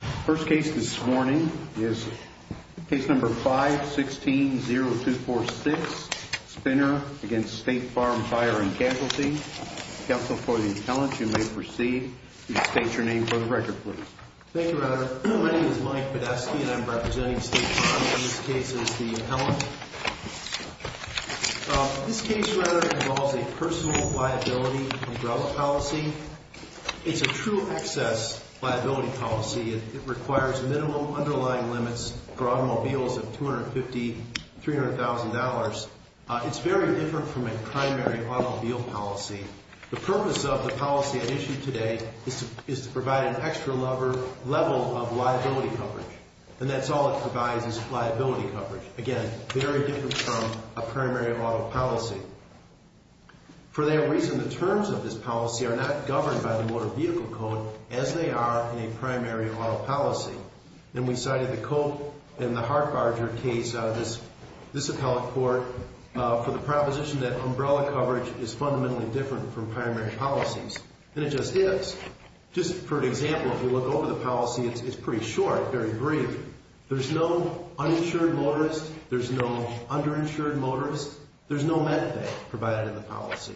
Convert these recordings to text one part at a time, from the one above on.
First case this morning is case number 516-0246, Spenner v. State Farm Fire & Casualty. Counsel for the appellant, you may proceed. State your name for the record, please. Thank you, Router. My name is Mike Podeski, and I'm representing State Farm in this case as the appellant. This case, Router, involves a personal liability umbrella policy. It's a true excess liability policy. It requires minimum underlying limits for automobiles of $250,000, $300,000. It's very different from a primary automobile policy. The purpose of the policy at issue today is to provide an extra level of liability coverage, and that's all it provides is liability coverage. Again, very different from a primary auto policy. For that reason, the terms of this policy are not governed by the Motor Vehicle Code as they are in a primary auto policy. And we cited the Cope and the Hartbarger case out of this appellate court for the proposition that umbrella coverage is fundamentally different from primary policies, and it just is. Just for an example, if you look over the policy, it's pretty short, very brief. There's no uninsured motorist. There's no underinsured motorist. There's no med pay provided in the policy.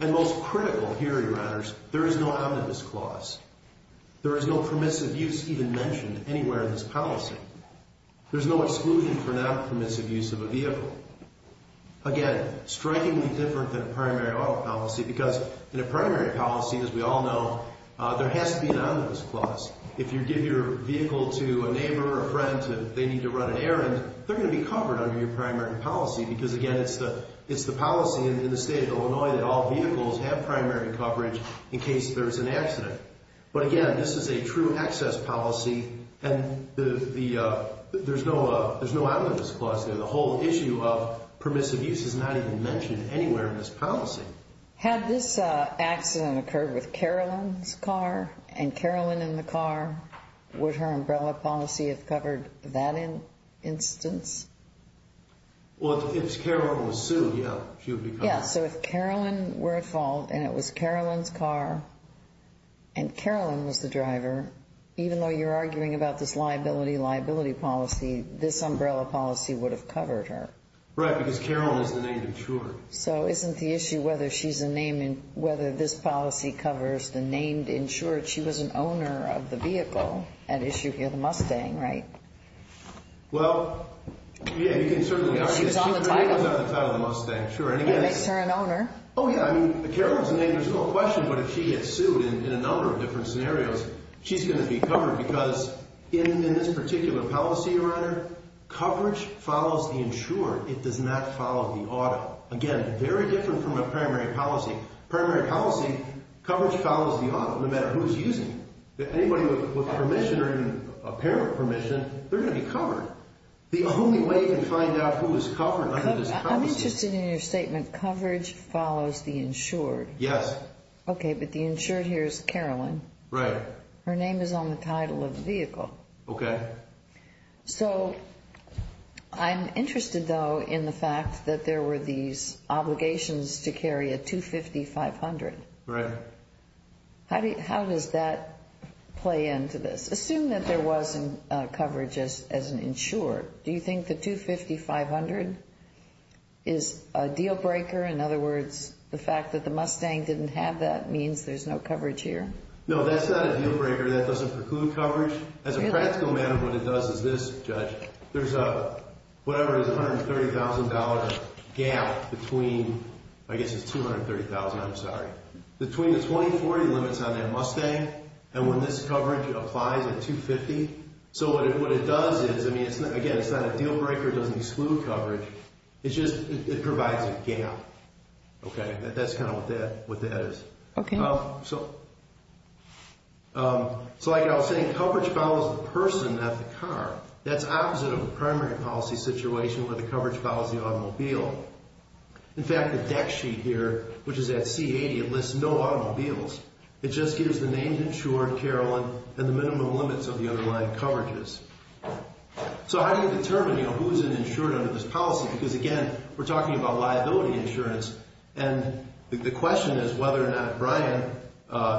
And most critical here, Your Honors, there is no omnibus clause. There is no permissive use even mentioned anywhere in this policy. There's no exclusion for non-permissive use of a vehicle. Again, strikingly different than a primary auto policy because in a primary policy, as we all know, there has to be an omnibus clause. If you give your vehicle to a neighbor or a friend and they need to run an errand, they're going to be covered under your primary policy because, again, it's the policy in the state of Illinois that all vehicles have primary coverage in case there's an accident. But again, this is a true access policy, and there's no omnibus clause there. The whole issue of permissive use is not even mentioned anywhere in this policy. Had this accident occurred with Carolyn's car and Carolyn in the car, would her umbrella policy have covered that instance? Well, if Carolyn was sued, yeah, she would be covered. Yeah, so if Carolyn were at fault and it was Carolyn's car and Carolyn was the driver, even though you're arguing about this liability-liability policy, this umbrella policy would have covered her. Right, because Carolyn is the named insured. So isn't the issue whether this policy covers the named insured? She was an owner of the vehicle at issue here, the Mustang, right? Well, yeah, you can certainly argue that she was on the title of the Mustang. Sure, and it makes her an owner. Oh, yeah, I mean, Carolyn's name, there's no question, but if she gets sued in a number of different scenarios, she's going to be covered because in this particular policy, Your Honor, coverage follows the insured. It does not follow the auto. Again, very different from a primary policy. Primary policy, coverage follows the auto, no matter who's using it. Anybody with permission or any apparent permission, they're going to be covered. The only way to find out who is covered under this policy... I'm interested in your statement, coverage follows the insured. Yes. Okay, but the insured here is Carolyn. Right. Her name is on the title of the vehicle. Okay. So I'm interested, though, in the fact that there were these obligations to carry a 250-500. Right. How does that play into this? Assume that there wasn't coverage as an insured. Do you think the 250-500 is a deal breaker? In other words, the fact that the Mustang didn't have that means there's no coverage here? No, that's not a deal breaker. That doesn't preclude coverage. As a practical matter, what it does is this, Judge, there's whatever is $130,000 gap between, I guess it's $230,000, I'm sorry, between the 2040 limits on that Mustang and when this coverage applies at 250. So what it does is, I mean, again, it's not a deal breaker. It doesn't exclude coverage. It's just, it provides a gap. Okay, that's kind of what that is. Okay. So like I was saying, coverage follows the person, not the car. That's opposite of a primary policy situation where the coverage follows the automobile. In fact, the deck sheet here, which is at C-80, it lists no automobiles. It just gives the named insured, Carolyn, and the minimum limits of the underlying coverages. So how do you determine who's an insured under this policy? Because again, we're talking about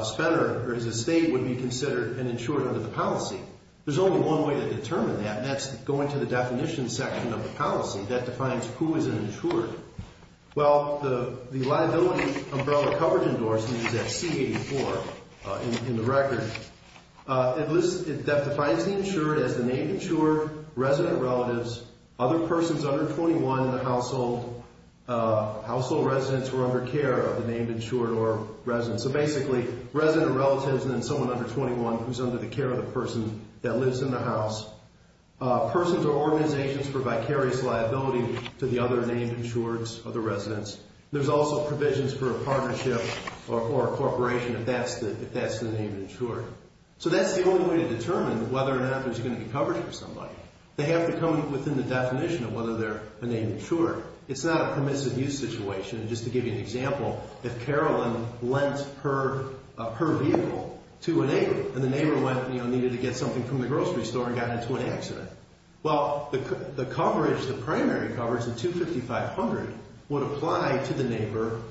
Spenner or his estate would be considered an insured under the policy. There's only one way to determine that, and that's going to the definition section of the policy that defines who is an insured. Well, the liability umbrella coverage endorsement is at C-84 in the record. That defines the insured as the named insured, resident relatives, other persons under 21 in the named insured or resident. So basically, resident relatives and then someone under 21 who's under the care of the person that lives in the house. Persons or organizations for vicarious liability to the other named insureds or the residents. There's also provisions for a partnership or a corporation if that's the named insured. So that's the only way to determine whether or not there's going to be coverage for somebody. They have to come within the definition of whether they're a named insured. It's not a permissive use situation. And just to give you an example, if Carolyn lent her vehicle to a neighbor and the neighbor went, you know, needed to get something from the grocery store and got into an accident. Well, the coverage, the primary coverage, the $255,000 would apply to the neighbor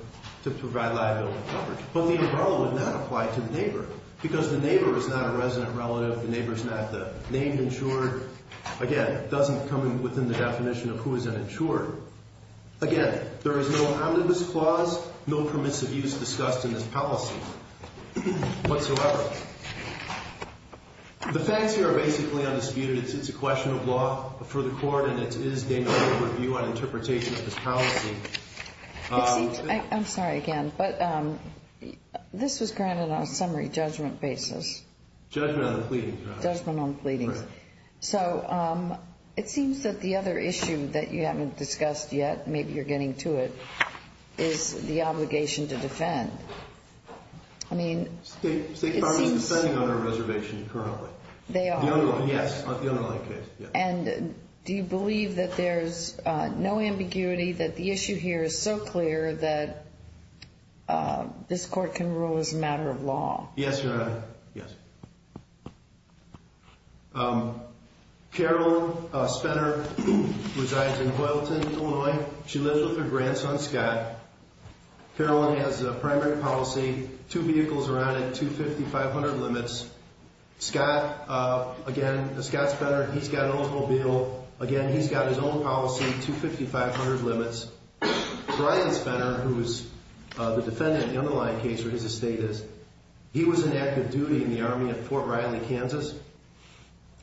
to provide liability coverage. But the umbrella would not apply to the neighbor because the neighbor is not a resident relative. The neighbor is not the named insured. Again, it doesn't come within the definition of who is an insured. Again, there is no omnibus clause, no permissive use discussed in this policy whatsoever. The facts here are basically undisputed. It's a question of law for the court and it is a review on interpretation of this policy. It seems, I'm sorry again, but this was granted on a summary judgment basis. Judgment on the pleadings. Judgment on the pleadings. And the other thing that you haven't discussed yet, maybe you're getting to it, is the obligation to defend. I mean, it seems... State farms are defending on our reservation currently. They are? Yes, on the underlying case. And do you believe that there's no ambiguity that the issue here is so clear that this court can rule as a matter of law? Yes, Your Honor. Yes. Carol Spenner resides in Boylton, Illinois. She lives with her grandson, Scott. Carol has a primary policy. Two vehicles are on it, 250, 500 limits. Scott, again, Scott Spenner, he's got an automobile. Again, he's got his own policy, 250, 500 limits. Brian Spenner, who is the defendant in the underlying case where his estate is, he was in active duty in the Army at Fort Riley, Kansas.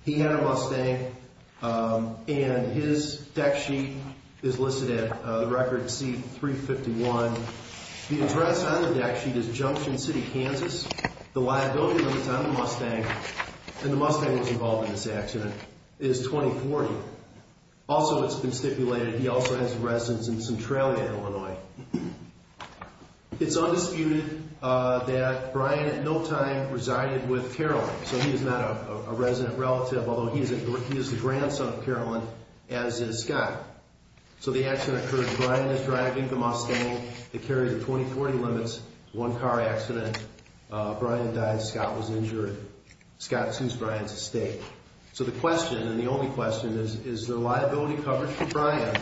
He had a Mustang and his deck sheet is listed at the record C-351. The address on the deck sheet is Junction City, Kansas. The liability numbers on the Mustang, and the Mustang was involved in this accident, is 20-40. Also, it's been stipulated he also has a residence in Centralia, Illinois. It's undisputed that Brian at no time resided with Carolyn, so he is not a resident relative, although he is the grandson of Carolyn, as is Scott. So the accident occurred, Brian is driving the Mustang that carried the 20-40 limits, one car accident. Brian died, Scott was injured. Scott assumes Brian's estate. So the question, and the only question, is, is there liability coverage for Brian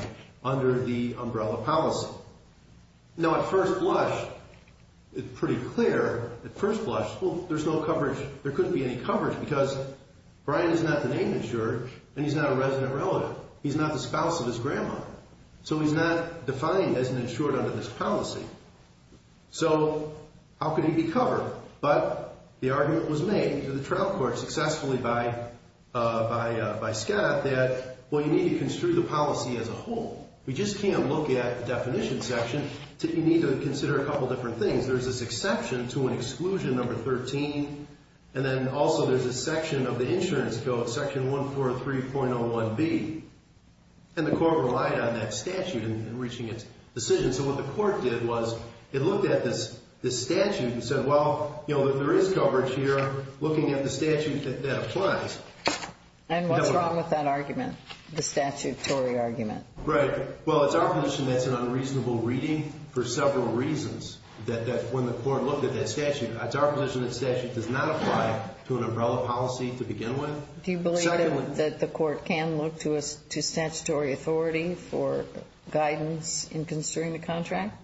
under the umbrella policy? Now, at first blush, it's pretty clear, at first blush, well, there's no coverage. There couldn't be any coverage, because Brian is not the name insured, and he's not a resident relative. He's not the spouse of his grandma. So he's not defined as an insured under this policy. So how could he be covered? But the argument was made to the trial court, successfully by Scott, that, well, you need to construe the policy as a whole. We just can't look at the definition section. You need to consider a couple different things. There's this exception to an exclusion, number 13, and then also there's a section of the insurance code, section 143.01b, and the court relied on that statute in reaching its decision. So what the court did was it looked at this statute and said, well, there is coverage here, looking at the statute that applies. And what's wrong with that argument, the statutory argument? Right. Well, it's our position that's an unreasonable reading for several reasons, that when the court looked at that statute, it's our position that statute does not apply to an umbrella policy to begin with. Do you believe that the court can look to statutory authority for guidance in construing the contract?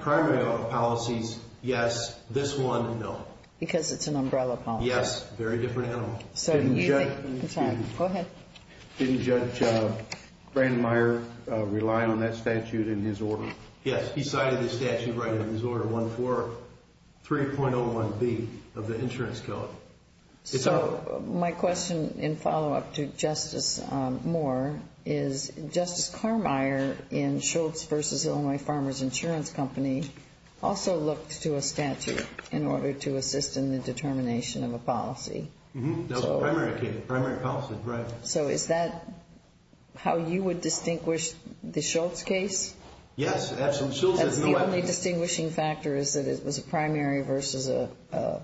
Primary policies, yes. This one, no. Because it's an umbrella policy. Yes. Very different animal. Go ahead. Didn't Judge Brandmeier rely on that statute in his order? Yes. He cited the statute right in his order, 143.01b of the insurance code. So my question in follow-up to Justice Moore is, Justice Carmeier in Schultz v. Illinois Farmers Insurance Company also looked to a statute in order to assist in the determination of a policy. That was a primary case, primary policy, right. So is that how you would distinguish the Schultz case? Yes, absolutely. That's the only distinguishing factor is that it is an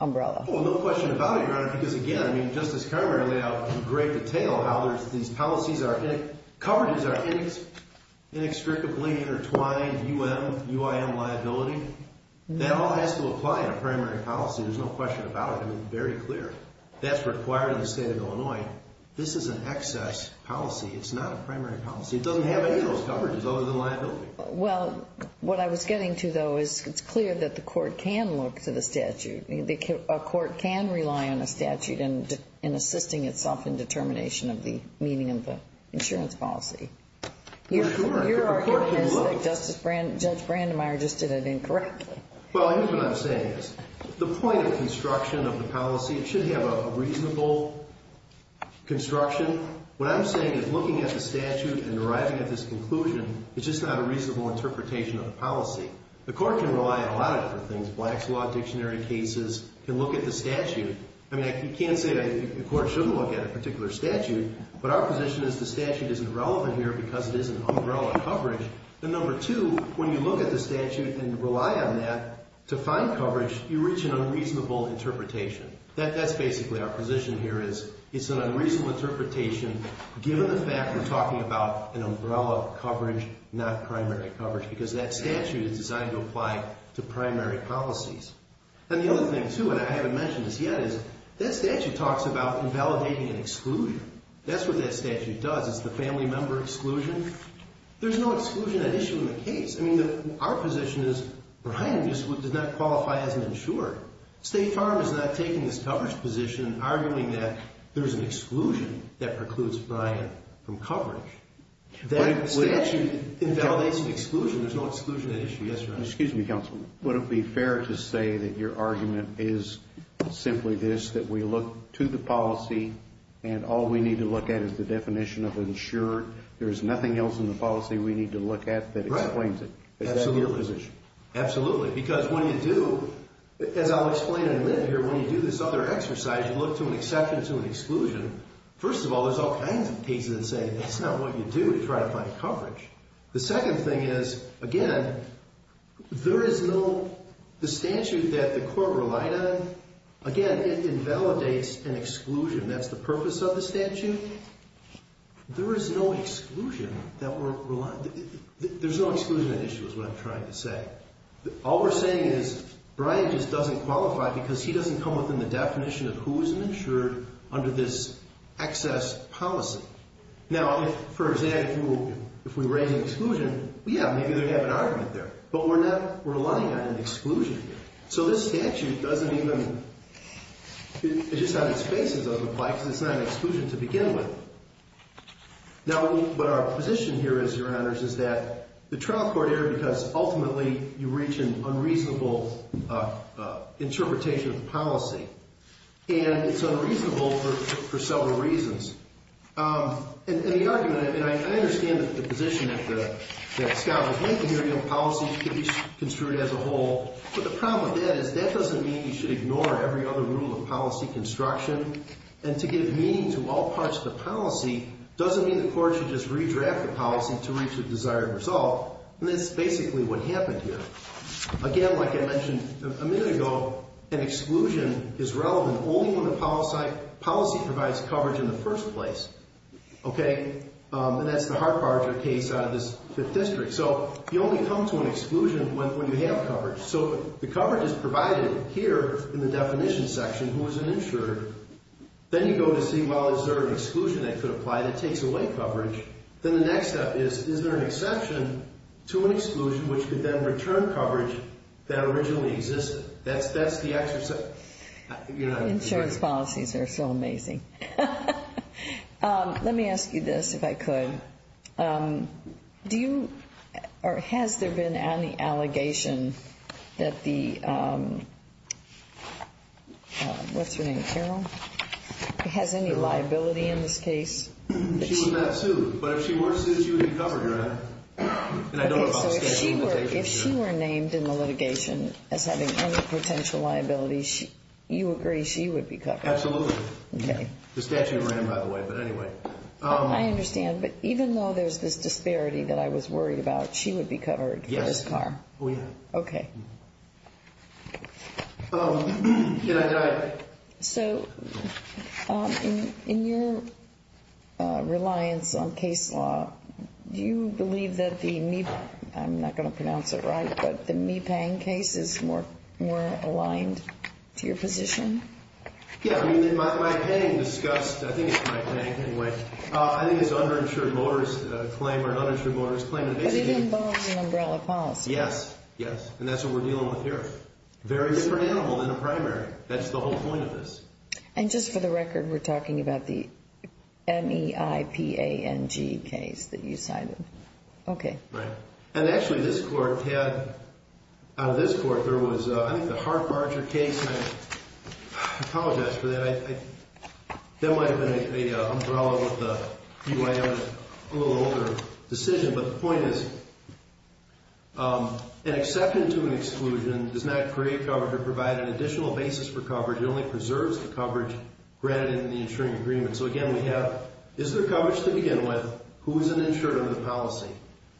umbrella. Well, no question about it, Your Honor, because again, I mean, Justice Carmeier laid out in great detail how these policies are, coverages are inextricably intertwined, UIM liability. That all has to apply in a primary policy. There's no question about it. I mean, very clear. That's required in the state of Illinois. This is an excess policy. It's not a primary policy. It doesn't have any of those coverages other than liability. Well, what I was getting to, though, is it's clear that the court can look to the statute. A court can rely on a statute in assisting itself in determination of the meaning of the insurance policy. Your argument is that Judge Brandemeier just did it incorrectly. Well, I think what I'm saying is the point of construction of the policy, it should have a reasonable construction. What I'm saying is looking at the statute and arriving at this conclusion is just not a reasonable interpretation of the policy. The court can rely on a lot of different things. Black's Law Dictionary cases can look at the statute. I mean, you can't say that the court shouldn't look at a particular statute, but our position is the statute isn't relevant here because it is an umbrella coverage. And number two, when you look at the statute and rely on that to find coverage, you reach an unreasonable interpretation. That's basically our position here is it's an unreasonable interpretation given the fact we're talking about an umbrella coverage, not primary coverage, because that statute is designed to apply to primary policies. And the other thing, too, and I haven't mentioned this yet, is that statute talks about invalidating an exclusion. That's what that statute does. It's the family member exclusion. There's no exclusion at issue in the case. I mean, our position is Brian just does not qualify as an insurer. State Farm is not taking this coverage position and there's an exclusion that precludes Brian from coverage. That statute invalidates an exclusion. There's no exclusion at issue. Yes, Your Honor. Excuse me, counsel. Would it be fair to say that your argument is simply this, that we look to the policy and all we need to look at is the definition of insured. There's nothing else in the policy we need to look at that explains it. Is that your position? Absolutely. Because when you do, as I'll explain in a minute here, when you do this other exercise, you look to an exception to an exclusion, first of all, there's all kinds of cases that say that's not what you do to try to find coverage. The second thing is, again, there is no, the statute that the court relied on, again, it invalidates an exclusion. That's the purpose of the statute. There is no exclusion that we're relying, there's no exclusion at issue is what I'm trying to say. All we're saying is Brian just doesn't qualify because he doesn't come within the definition of who's insured under this excess policy. Now, for example, if we were raising exclusion, yeah, maybe they'd have an argument there, but we're not relying on an exclusion here. So this statute doesn't even, it's just on its face it doesn't apply because it's not an exclusion to begin with. Now, what our position here is, Your Honors, is that the trial court error because ultimately you reach an unreasonable interpretation of the policy. And it's unreasonable for several reasons. And the argument, and I understand the position that Scott was making here, you know, policy should be construed as a whole. But the problem with that is that doesn't mean you should ignore every other rule of policy construction. And to give meaning to all parts of the policy doesn't mean the court should just redraft the policy to reach the desired result. And that's basically what happened here. Again, like I mentioned a minute ago, an exclusion is relevant only when the policy provides coverage in the first place. Okay? And that's the Hartbarger case out of this 5th District. So you only come to an exclusion when you have coverage. So the coverage is provided here in the definition section, who is an insurer. Then you go to see, well, is there an exclusion that could apply that takes away coverage? Then the next step is, is there an exception to an exclusion which could then return coverage that originally existed? That's the exercise. Insurance policies are so amazing. Let me ask you this, if I could. Do you, or has there been any allegation that the, what's her name, Carol? Has any liability in this case? She was not and I don't know if she were named in the litigation as having any potential liability. You agree she would be covered? Absolutely. Okay. The statute ran by the way, but anyway. I understand. But even though there's this disparity that I was worried about, she would be covered for this car? Yes. Oh yeah. Okay. Can I dive? So in your reliance on case law, do you believe that the, I'm not going to pronounce it right, but the Mee-Pang case is more aligned to your position? Yeah. I mean, in my opinion, discussed, I think it's Mee-Pang anyway. I think it's an underinsured motorist claim or an underinsured policy. Yes. Yes. And that's what we're dealing with here. Very different animal than a primary. That's the whole point of this. And just for the record, we're talking about the M-E-I-P-A-N-G case that you cited. Okay. Right. And actually this court had, out of this court, there was a, I think the Hart-Marger case. I apologize for that. That might've been an umbrella with the B-Y-M, a little older decision. But the point is an acceptance to an exclusion does not create coverage or provide an additional basis for coverage. It only preserves the coverage granted in the insuring agreement. So again, we have, is there coverage to begin with? Who is an insured under the policy?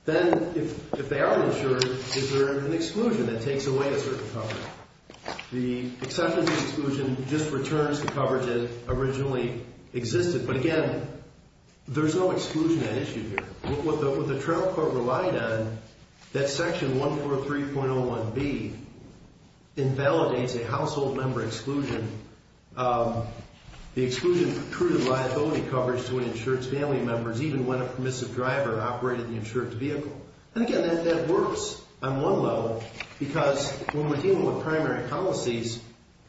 Then if they are insured, is there an exclusion that takes away a certain coverage? The acceptance of exclusion just returns the coverage that originally existed. But again, there's no exclusion at issue here. What the trial court relied on, that section 143.01B, invalidates a household member exclusion. The exclusion recruited liability coverage to an insured's family members even when a permissive driver operated the insured's vehicle. And again, that works on one level because when we're dealing with primary policies,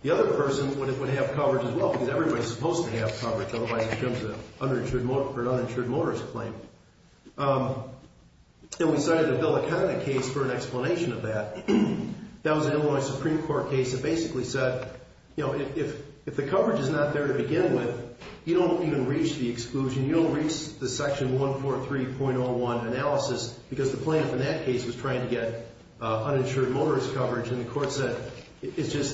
the other person would have coverage as well because everybody's supposed to have coverage otherwise it becomes an uninsured motorist claim. And we decided to build a kind of case for an explanation of that. That was an Illinois Supreme Court case that basically said, you know, if the coverage is not there to begin with, you don't even reach the exclusion. You don't reach the section 143.01 analysis because the plaintiff in that case was trying to get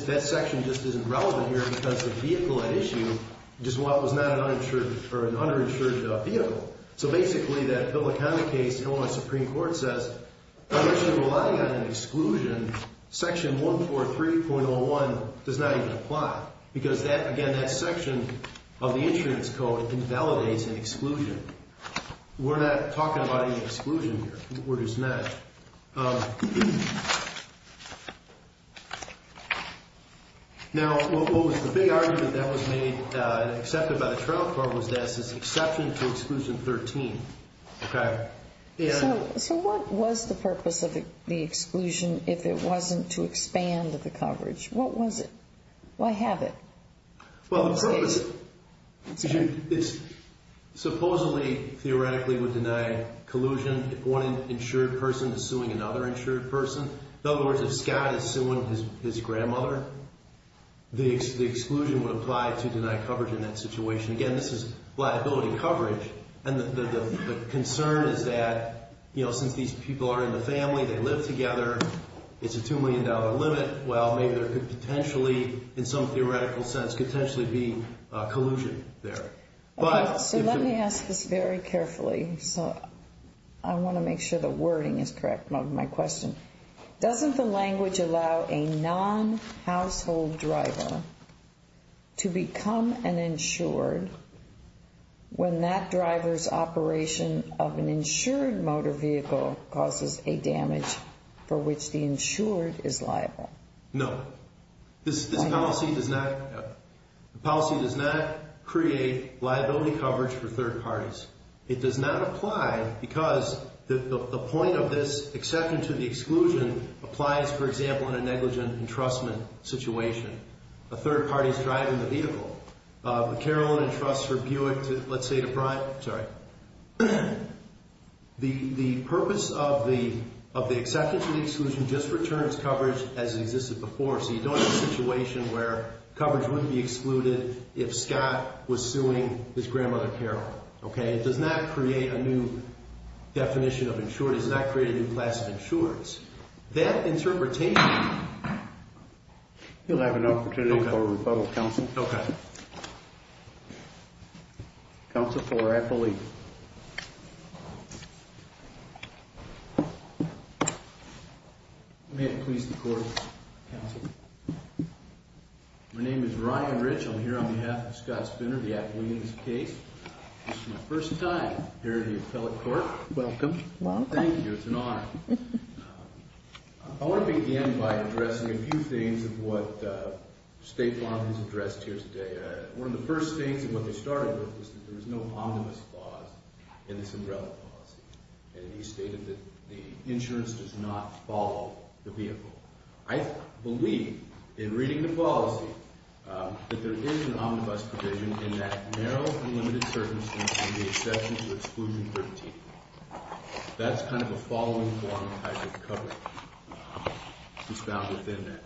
that section just isn't relevant here because the vehicle at issue just was not an uninsured or an underinsured vehicle. So basically that public comment case, Illinois Supreme Court says, unless you're relying on an exclusion, section 143.01 does not even apply because that again, that section of the insurance code invalidates an exclusion. We're not talking about any exclusion here. The word is not. Now, what was the big argument that was made, accepted by the trial court was that it's an exception to exclusion 13. Okay. So what was the purpose of the exclusion if it wasn't to expand the coverage? What was it? Why have it? Well, supposedly, theoretically, would deny collusion if one insured person is suing another insured person. In other words, if Scott is suing his grandmother, the exclusion would apply to deny coverage in that situation. Again, this is liability coverage. And the concern is that, you know, since these people are in the family, they live together, it's a $2 million limit. Well, maybe there could potentially, in some theoretical sense, could potentially be collusion there. So let me ask this very carefully. So I want to make sure the wording is correct. My question, doesn't the language allow a non-household driver to become an insured when that driver's operation of an insured motor vehicle causes a damage for which the insured is liable? No. This policy does not create liability coverage for third parties. It does not apply because the point of this exception to the exclusion applies, for example, in a negligent entrustment situation. A third party's driving the vehicle. Caroline entrusts her Buick to, let's say, to Brian. Sorry. The purpose of the exception to the exclusion has existed before. So you don't have a situation where coverage wouldn't be excluded if Scott was suing his grandmother, Caroline. Okay? It does not create a new definition of insured. It does not create a new class of insureds. That interpretation... You'll have an opportunity for a rebuttal, Counsel. Okay. Counsel Fuller, I believe. May it please the Court, Counsel. My name is Ryan Rich. I'm here on behalf of Scott Spinner, the appellee in this case. This is my first time here at the appellate court. Welcome. Welcome. Thank you. It's an honor. I want to begin by addressing a few things of what Stefan has addressed here today. One of the first things, and what they started with, is that there is no omnibus clause in this umbrella policy. And he stated that the insurance does not follow the vehicle. I believe, in reading the policy, that there is an omnibus provision in that narrow and limited circumstance in the exception to exclusion 13. That's kind of a following form of how you cover it. It's found within that.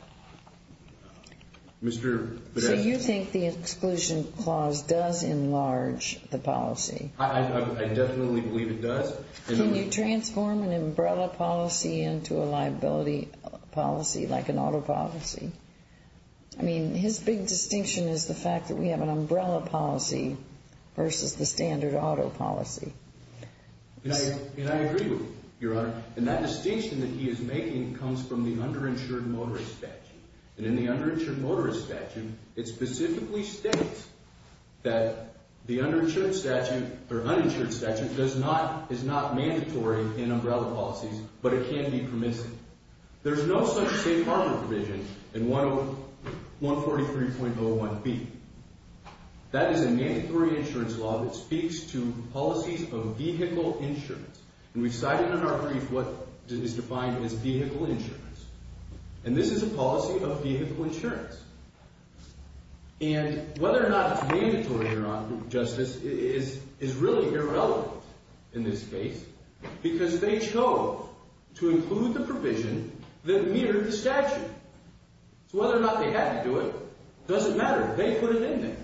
Mr. Podesta. You think the exclusion clause does enlarge the policy? I definitely believe it does. Can you transform an umbrella policy into a liability policy, like an auto policy? I mean, his big distinction is the fact that we have an umbrella policy versus the standard auto policy. And I agree with you, Your Honor. And that distinction that he is making comes from the underinsured motorist statute. And in the underinsured motorist statute, it specifically states that the underinsured statute, or uninsured statute, is not mandatory in umbrella policies, but it can be permissive. There's no such safe harbor provision in 143.01b. That is a mandatory insurance law that speaks to policies of vehicle insurance. And we've cited in our brief what is defined as vehicle insurance. And this is a policy of vehicle insurance. And whether or not it's mandatory or not, Justice, is really irrelevant in this case, because they chose to include the provision that mirrored the statute. So whether or not they had to do it, doesn't matter. They put it in there.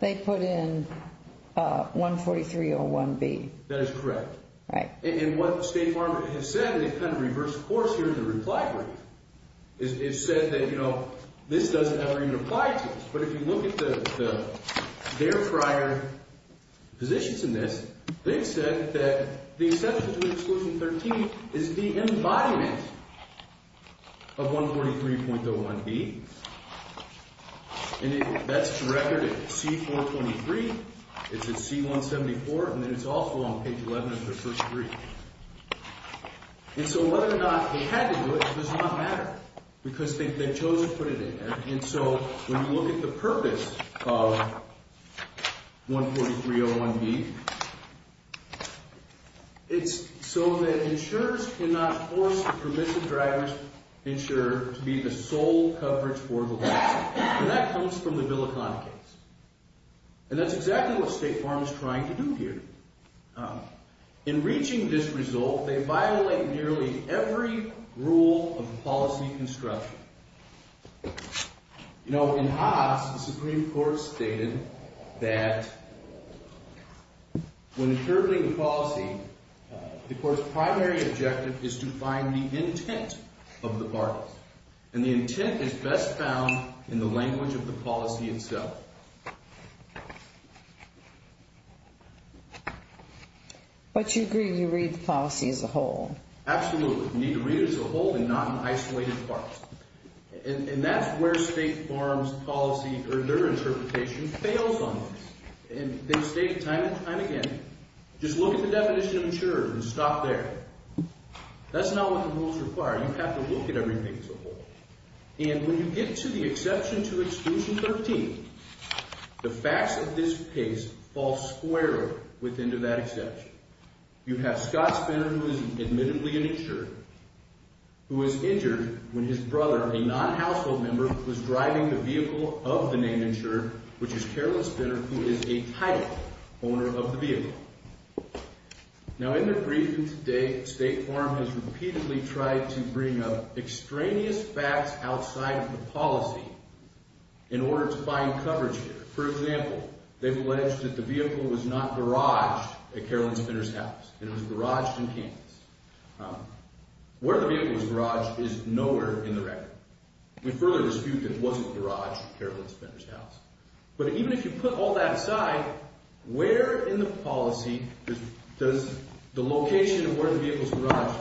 They put in 143.01b. That is correct. And what State Farm has said, and it kind of reversed course here in the reply brief, is it said that, you know, this doesn't ever even apply to us. But if you look at their prior positions in this, they've said that the exception to exclusion 13 is the embodiment of 143.01b. And that's directed at C-423. It's at C-174. And then it's also on page 11 of their first brief. And so whether or not they had to do it, it does not matter, because they chose to put it in there. And so when you look at the purpose of 143.01b, it's so that insurers cannot force the permissive driver's insurer to be the sole coverage for the license. And that comes from the Bill of Conduct case. And that's exactly what State Farm is trying to do here. In reaching this result, they violate nearly every rule of policy construction. You know, in Haas, the Supreme Court stated that when curtailing a policy, the court's primary objective is to find the intent of the parties. And the intent is best found in the language of the policy itself. But you agree you read the policy as a whole. Absolutely. You need to read it as a whole and not in isolated parts. And that's where State Farm's policy, or their interpretation, fails on this. And they state time and time again, just look at the definition of insurer and stop there. That's not what the rules require. You have to look at everything as a whole. And when you get to the exception to exclusion 13, the facts of this case fall squarely within to that exception. You have Scott Spinner, who is admittedly an insurer, who was injured when his brother, a non-household member, was driving the vehicle of the named insurer, which is Carolyn Spinner, who is a title owner of the vehicle. Now, in the briefing today, State Farm has repeatedly tried to bring up extraneous facts outside of the policy in order to find coverage here. For example, they've alleged that the vehicle was not garaged at Carolyn Spinner's house. It was garaged in Kansas. Where the vehicle was garaged is nowhere in the record. We further dispute that it wasn't garaged at Carolyn Spinner's house. But even if you put all that aside, where in the policy does the location of where the vehicle was garaged?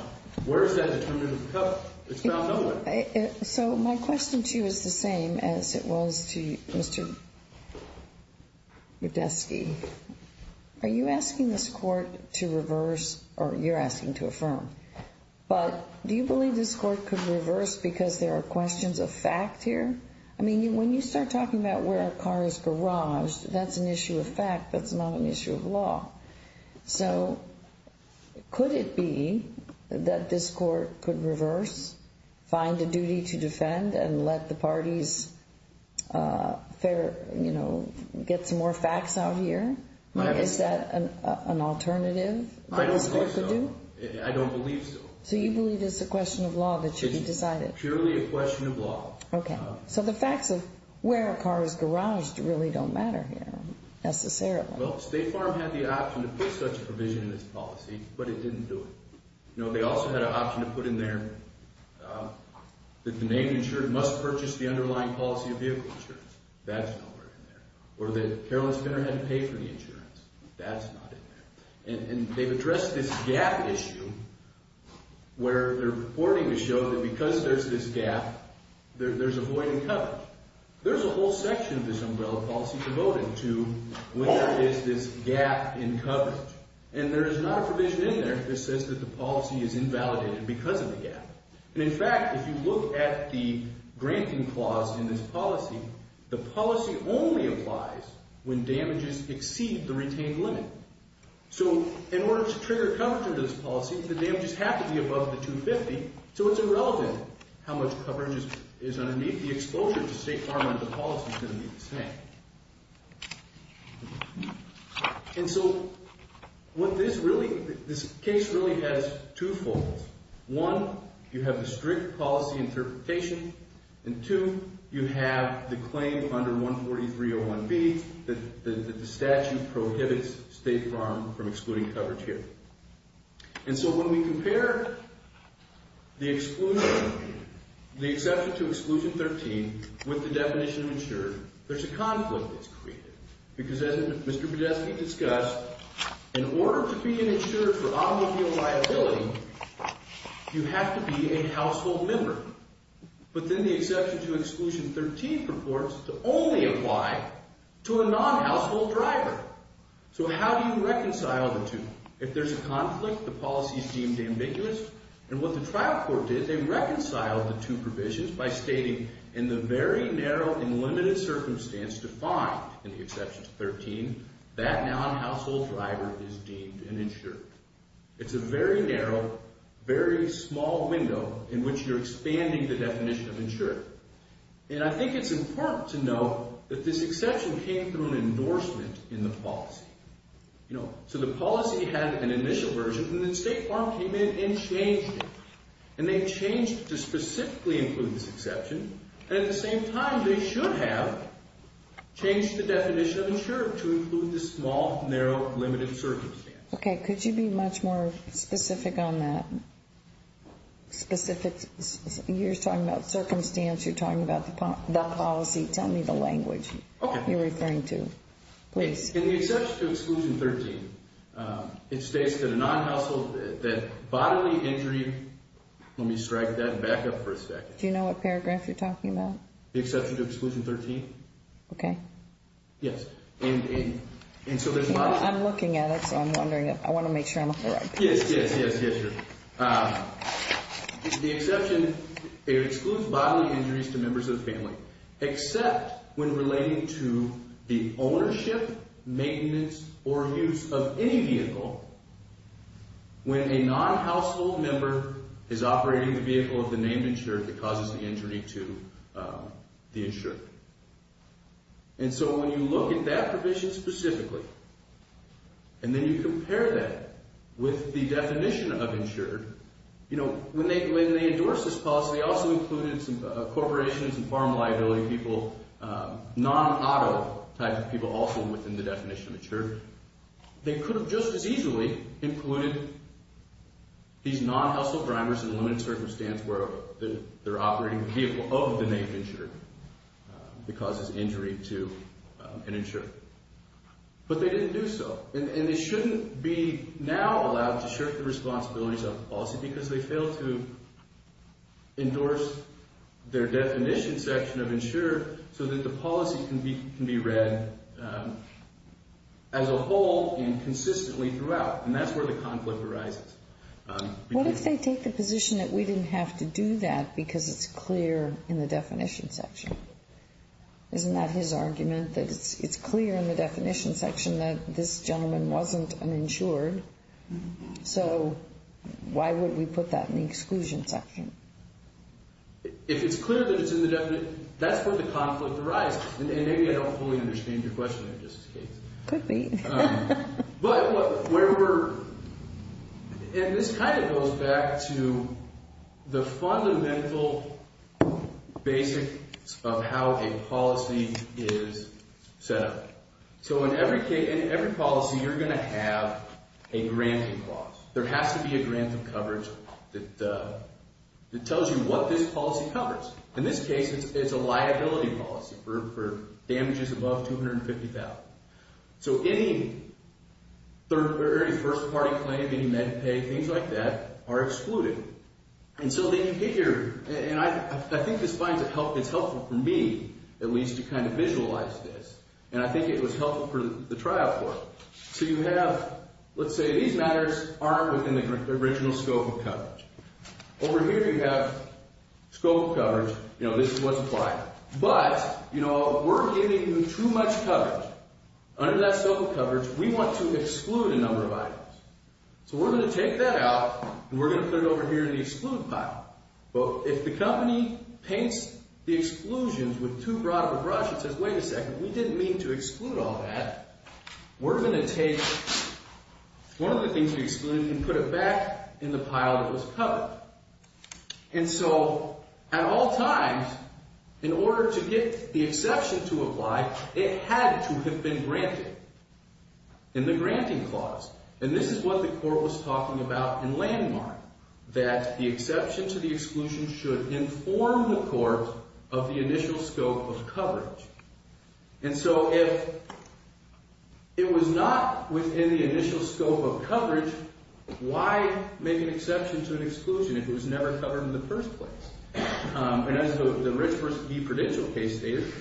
So my question to you is the same as it was to Mr. Rudetsky. Are you asking this court to reverse or you're asking to affirm? But do you believe this court could reverse because there are questions of fact here? I mean, when you start talking about where our car is garaged, that's an issue of fact. That's not an issue of law. So could it be that this court could reverse, find a duty to defend, and let the parties get some more facts out here? Is that an alternative? I don't believe so. So you believe it's a question of law that should be decided? Purely a question of law. Okay. So the facts of where a car is garaged really don't matter here necessarily. Well, State Farm had the option to you know, they also had an option to put in there that the name insured must purchase the underlying policy of vehicle insurance. That's not right in there. Or that Carolyn Spinner had to pay for the insurance. That's not in there. And they've addressed this gap issue where they're reporting to show that because there's this gap, there's a void in coverage. There's a whole section of this umbrella policy devoted to where is this gap in coverage. And there is not a provision in there that says that the policy is invalidated because of the gap. And in fact, if you look at the granting clause in this policy, the policy only applies when damages exceed the retained limit. So in order to trigger coverage under this policy, the damages have to be above the 250. So it's irrelevant how much coverage is underneath. The exposure to State Farm under the policy is the same. And so what this really, this case really has two folds. One, you have the strict policy interpretation. And two, you have the claim under 14301B that the statute prohibits State Farm from excluding coverage here. And so when we compare the exclusion, the exception to exclusion 13 with the definition of insured, there's a conflict that's created. Because as Mr. Podesta discussed, in order to be an insured for automobile liability, you have to be a household member. But then the exception to exclusion 13 purports to only apply to a non-household driver. So how do you reconcile the two? If there's a conflict, the policy is deemed ambiguous. And what the trial court did, they reconciled the two provisions by stating in the very narrow and limited circumstance defined in the exception to 13, that non-household driver is deemed an insured. It's a very narrow, very small window in which you're expanding the definition of insured. And I think it's important to know that this exception came through an initial policy. So the policy had an initial version, and then State Farm came in and changed it. And they changed to specifically include this exception. And at the same time, they should have changed the definition of insured to include the small, narrow, limited circumstance. Okay. Could you be much more specific on that? Specific. You're talking about circumstance. You're talking about the policy. Tell me the please. In the exception to exclusion 13, it states that a non-household, that bodily injury... Let me strike that back up for a second. Do you know what paragraph you're talking about? The exception to exclusion 13. Okay. Yes. And so there's... I'm looking at it, so I'm wondering if... I want to make sure I'm on the right page. Yes, yes, yes, yes. The exception, it excludes bodily injuries to members of the family, except when relating to the ownership, maintenance, or use of any vehicle. When a non-household member is operating the vehicle of the name insured that causes the injury to the insured. And so when you look at that provision specifically, and then you compare that with the definition of insured, when they endorsed this policy, they also included some corporations and farm liability people, non-auto type of people also within the definition of insured. They could have just as easily included these non-household drivers in a limited circumstance where they're operating the vehicle of the name insured that causes injury to an insured. But they didn't do so. And they shouldn't be now allowed to shirk the responsibilities of the policy because they failed to endorse their definition section of insured so that the policy can be read as a whole and consistently throughout. And that's where the conflict arises. What if they take the position that we didn't have to do that because it's clear in the definition section? Isn't that his argument, that it's clear in the definition section that this gentleman wasn't uninsured? So why would we put that in the exclusion section? If it's clear that it's in the definition, that's where the conflict arises. And maybe I don't fully understand your question, if that's the case. Could be. And this kind of goes back to the fundamental basics of how a policy is set up. So in every policy, you're going to have a granting clause. There has to be a grant of coverage that tells you what this policy covers. In this case, it's a liability policy for damages above $250,000. So any first party claim, any med pay, things like that are excluded. And so then you get here, and I think this is helpful for me, at least to kind of visualize this. And I think it was helpful for the trial court. So you have, let's say these matters aren't within the original scope of coverage. Over here, you have scope of coverage. This is what's applied. But we're giving you too much coverage. Under that scope of coverage, we want to exclude a number of items. So we're going to take that out, and we're going to put it over here in the exclude pile. But if the company paints the exclusions with too broad of a brush, it says, wait a second, we didn't mean to exclude all that. We're going to take one of the things we excluded and put it back in the pile that was covered. And so at all times, in order to get the exception to apply, it had to have been granted in the granting clause. And this is what the court was talking about in landmark, that the exception to the exclusion should inform the court of the initial scope of coverage. And so if it was not within the initial scope of coverage, why make an exception to an exclusion if it was never covered in the first place? And as the Rich v. DeProdigio case stated,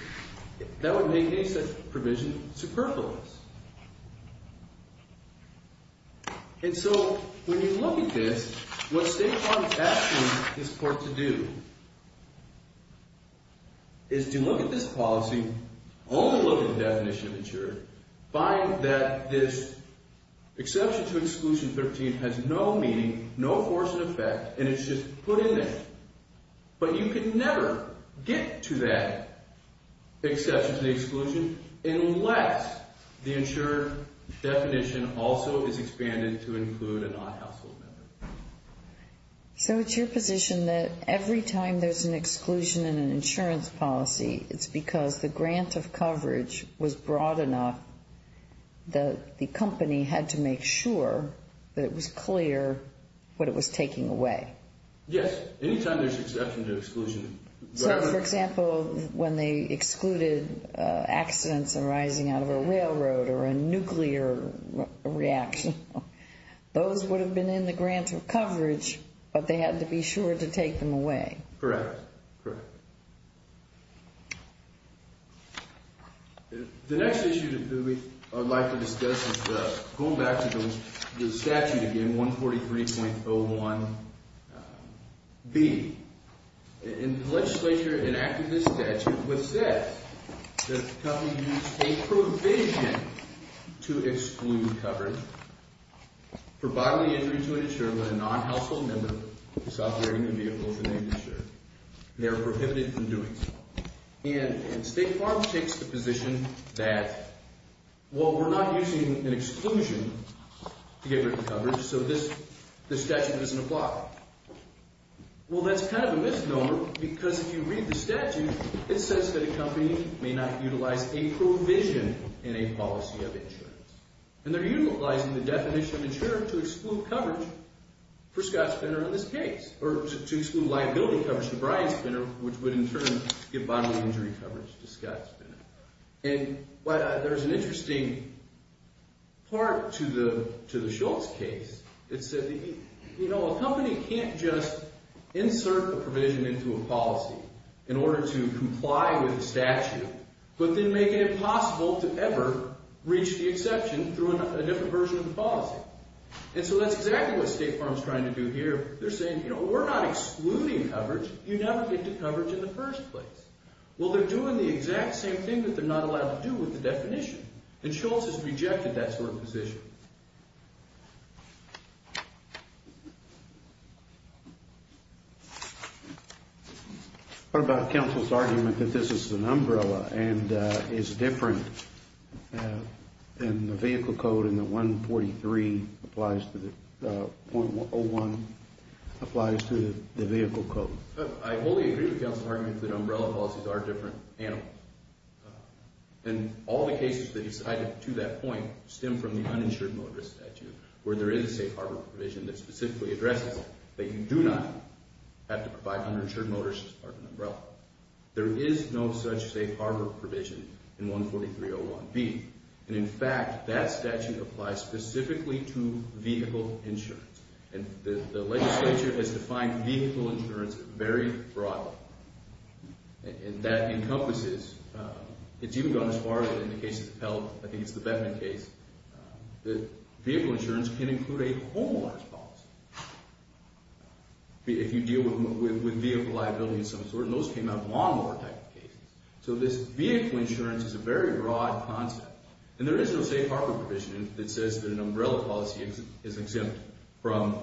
that would make any such provision superfluous. And so when you look at this, what State Farm is asking this court to do is to look at this policy, only look at the definition of maturity, find that this exclusion 13 has no meaning, no force and effect, and it's just put in there. But you can never get to that exception to the exclusion unless the insured definition also is expanded to include a non-household member. So it's your position that every time there's an exclusion in an insurance policy, it's because the grant of coverage was broad enough that the company had to make sure that it was clear what it was taking away? Yes. Anytime there's exception to exclusion. So for example, when they excluded accidents arising out of a railroad or a nuclear reaction, those would have been in the grant of coverage, but they had to be sure to take them away? Correct. The next issue that we would like to discuss is going back to the statute again, 143.01B. In the legislature, an act of this statute would say that the company used a provision to exclude coverage for bodily injury to an insured by a non-household member who's operating the vehicles in the industry. They're prohibited from doing so. And State Farm takes the position that, well, we're not using an exclusion to get rid of coverage, so this statute doesn't apply. Well, that's kind of a misnomer, because if you read the statute, it says that a company may not utilize a provision in a policy of insurance. And they're utilizing the definition of insurance to exclude coverage for Scott Spinner in this case, or to exclude liability coverage for Brian Spinner, which would in turn give bodily injury coverage to Scott Spinner. And there's an interesting part to the Schultz case. It said, you know, a company can't just insert a provision into a policy in order to comply with the statute, but then make it impossible to ever reach the exception through a different version of the policy. And so that's exactly what State Farm's trying to do here. They're saying, you know, we're not excluding coverage. You never get to coverage in the first place. Well, they're doing the exact same thing that they're not allowed to do with the definition. And Schultz has rejected that sort of position. What about counsel's argument that this is an umbrella and is different in the vehicle code and that 143.01 applies to the vehicle code? I wholly agree with counsel's argument that umbrella policies are different animals. In all the cases that to that point stem from the uninsured motorist statute, where there is a safe harbor provision that specifically addresses that you do not have to provide uninsured motorists as part of an umbrella. There is no such safe harbor provision in 143.01B. And in fact, that statute applies specifically to vehicle insurance. And the legislature has defined vehicle insurance very broadly. And that encompasses, it's even gone as far as in the case of the Pell, I think it's the Bettman case, that vehicle insurance can include a homeowner's policy. If you deal with vehicle liability of some sort, and those came out of lawnmower type of cases. So this vehicle insurance is a very broad concept. And there is no safe harbor provision that says that an umbrella policy is exempt from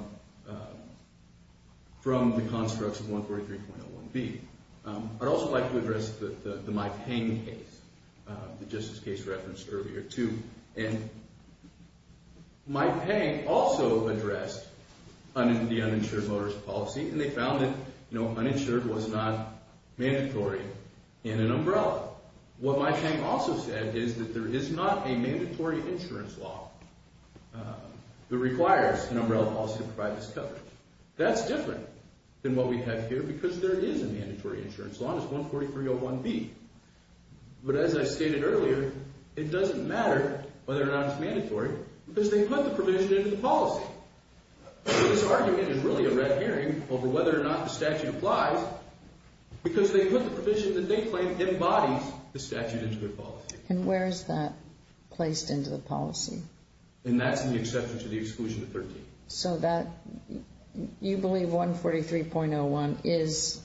the constructs of 143.01B. I'd also like to address the MyPayne case, the justice case referenced earlier too. And MyPayne also addressed the uninsured motorist policy, and they found that uninsured was not mandatory in an umbrella. What MyPayne also said is that there is not a mandatory insurance law that requires an umbrella policy to provide this coverage. That's different than what we have here, because there is a mandatory insurance law, and it's 143.01B. But as I stated earlier, it doesn't matter whether or not it's mandatory, because they put the provision into the policy. This argument is really a red herring over whether or not the statute applies, because they put the provision that they claim embodies the statute into the policy. And where is that placed into the policy? And that's in the exception to the exclusion of 13. So that, you believe 143.01 is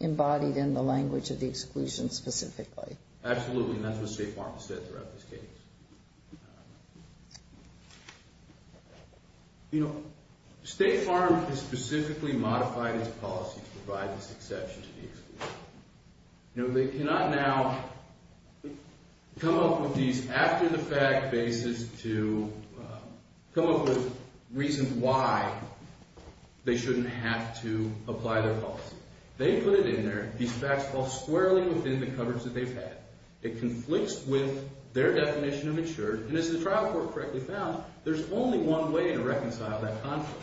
embodied in the language of the exclusion specifically? Absolutely, and that's what State Farm said throughout this case. You know, State Farm has specifically modified its policy to provide this exception to the statute. Now, come up with these after-the-fact bases to come up with reasons why they shouldn't have to apply their policy. They put it in there. These facts fall squarely within the coverage that they've had. It conflicts with their definition of insured, and as the trial court correctly found, there's only one way to reconcile that conflict,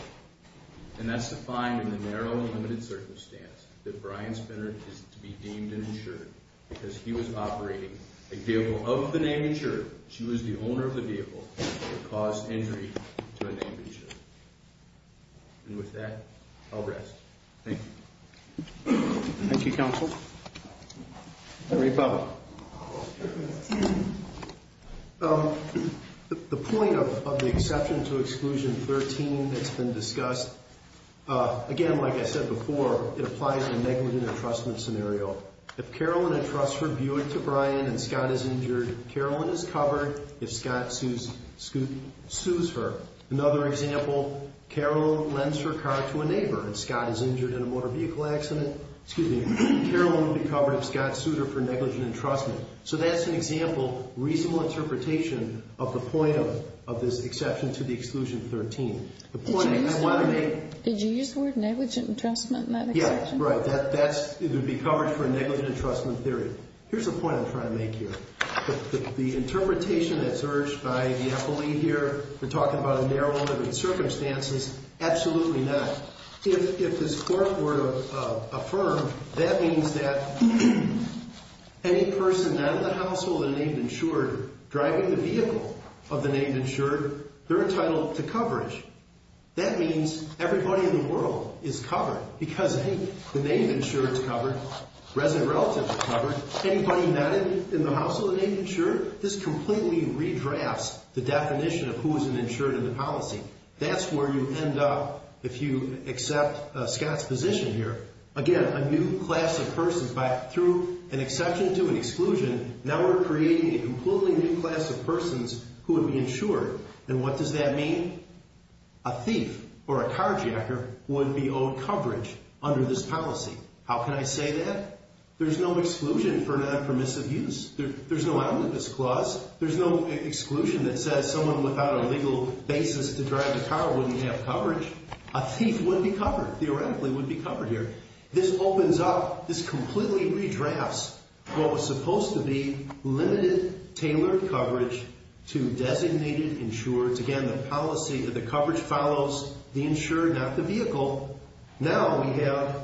and that's to find in the narrow and limited circumstance that Brian Spinner is to be deemed an insured, because he was operating a vehicle of the name insured. She was the owner of the vehicle that caused injury to a name insured. And with that, I'll rest. Thank you. Thank you, counsel. The point of the exception to exclusion 13 that's been discussed, again, like I said before, it applies to a negligent entrustment scenario. If Carolyn entrusts her Buick to Brian and Scott is injured, Carolyn is covered if Scott sues her. Another example, Carolyn lends her car to a neighbor and Scott is injured in a motor vehicle accident, Carolyn would be covered if Scott sued her for negligent entrustment. So that's an example, reasonable interpretation of the point of this exception to the exclusion 13. The point I want to make... Did you use the word negligent entrustment in that exception? Yeah, right. That would be covered for a negligent entrustment theory. Here's the point I'm trying to make here. The interpretation that's urged by the affiliate here, we're talking about a narrow limited circumstances, absolutely not. If this court were to affirm, that means that any person not in the household of the name insured driving the vehicle of the name insured, they're entitled to coverage. That means everybody in the world is covered because, hey, the name insured is covered, resident relatives are covered, anybody not in the household of the name insured, this completely redrafts the definition of who is an insured in the policy. That's where you end up if you accept Scott's position here. Again, a new class of persons, through an exception to an exclusion, now we're creating a completely new class of persons who would be insured. And what does that mean? A thief or a carjacker would be owed coverage under this policy. How can I say that? There's no exclusion for non-permissive use. There's no omnibus clause. There's no exclusion that says someone without a legal basis to drive a car wouldn't have coverage. A thief would be covered, theoretically would be covered here. This opens up, this completely redrafts what was supposed to be limited tailored coverage to designated insureds. Again, the policy that the coverage follows the insured, not the vehicle. Now we have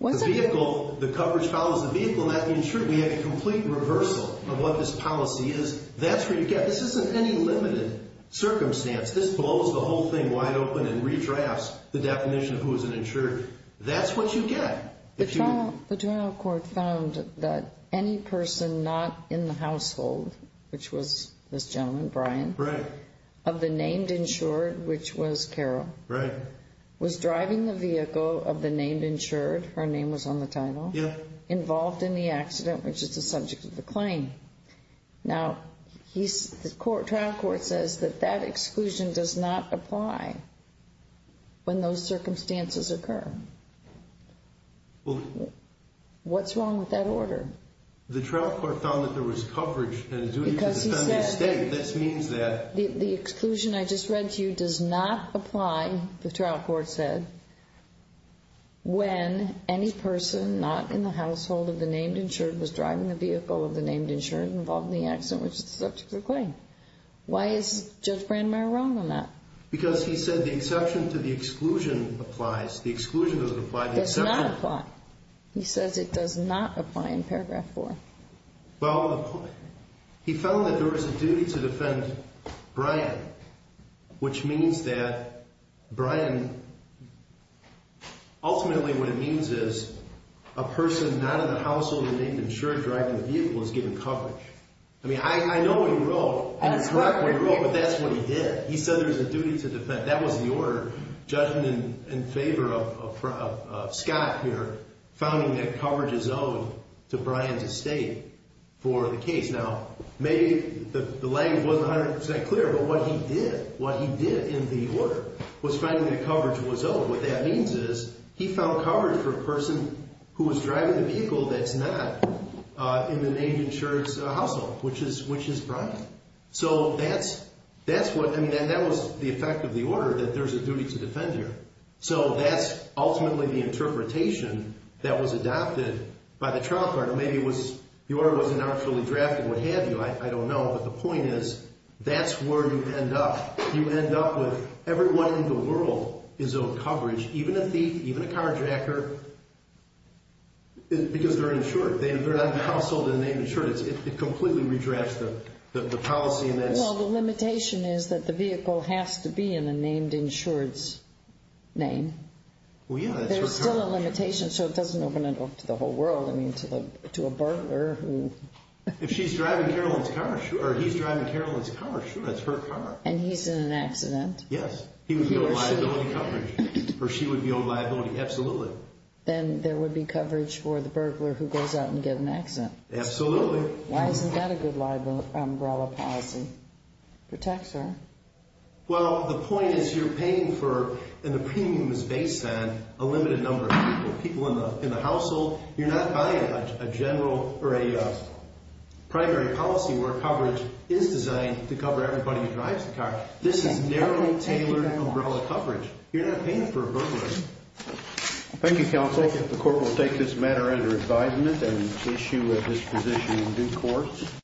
the vehicle, the coverage follows the vehicle, not the insured. We have a complete reversal of what this policy is. That's where you get, this isn't any limited circumstance. This blows the whole thing wide open and redrafts the definition of who is an insured. That's what you get. The trial court found that any person not in the household, which was this gentleman, Brian, of the named insured, which was Carol, was driving the vehicle of the named insured, her name was on the title, involved in the accident, which is the subject of the claim. Now, the trial court says that that exclusion does not apply when those circumstances occur. What's wrong with that order? The trial court found that there was coverage and duty to defend the state. This means that the exclusion I just read to you does not apply, the trial court said, when any person not in the household of the named insured was driving the vehicle of the named insured, involved in the accident, which is the subject of the claim. Why is Judge Brandemeier wrong on that? Because he said the exception to the exclusion applies. The exclusion doesn't apply. It does not apply. He says it does not apply in paragraph four. Well, he found that there was a duty to defend Brian, which means that Brian, ultimately what it means is a person not in the household of the named insured driving the vehicle is given coverage. I mean, I know he wrote, and it's correct what he wrote, but that's what he did. He said there's a duty to defend. That was the order, judging in favor of Scott here, founding that coverage is owed to Brian's estate for the case. Now, maybe the language wasn't 100% clear, but what he did, what he did in the order was finding that coverage was owed. What that means is he found coverage for a person who was driving the vehicle that's not in the named insured's household, which is Brian. So that's what, I mean, that was the effect of the order, that there's a duty to defend here. So that's ultimately the interpretation that was adopted by the trial court, or maybe it was, the order wasn't actually drafted, what have you, I don't know. But the point is, that's where you end up. You end up with everyone in the world is owed coverage, even a thief, even a carjacker, because they're insured. They're not in the household and they're insured. It completely redrafts the policy and that's- Well, the limitation is that the vehicle has to be in a named insured's name. Well, yeah. There's still a limitation, so it doesn't open it up to the whole world. I mean, to a burglar who- If she's driving Carolyn's car, sure, or he's driving Carolyn's car, sure, that's her car. And he's in an accident. Yes, he would be owed liability coverage, or she would be owed liability, absolutely. Then there would be coverage for the burglar who goes out and get an accident. Absolutely. Why isn't that a good umbrella policy? It protects her. Well, the point is, you're paying for, and the premium is based on a limited number of people. People in the household, you're not buying a general or a primary policy where coverage is designed to cover everybody who drives the car. This is narrowly tailored umbrella coverage. You're not paying for a burglar. Thank you, counsel. The court will take this matter under advisement and issue a disposition in due course.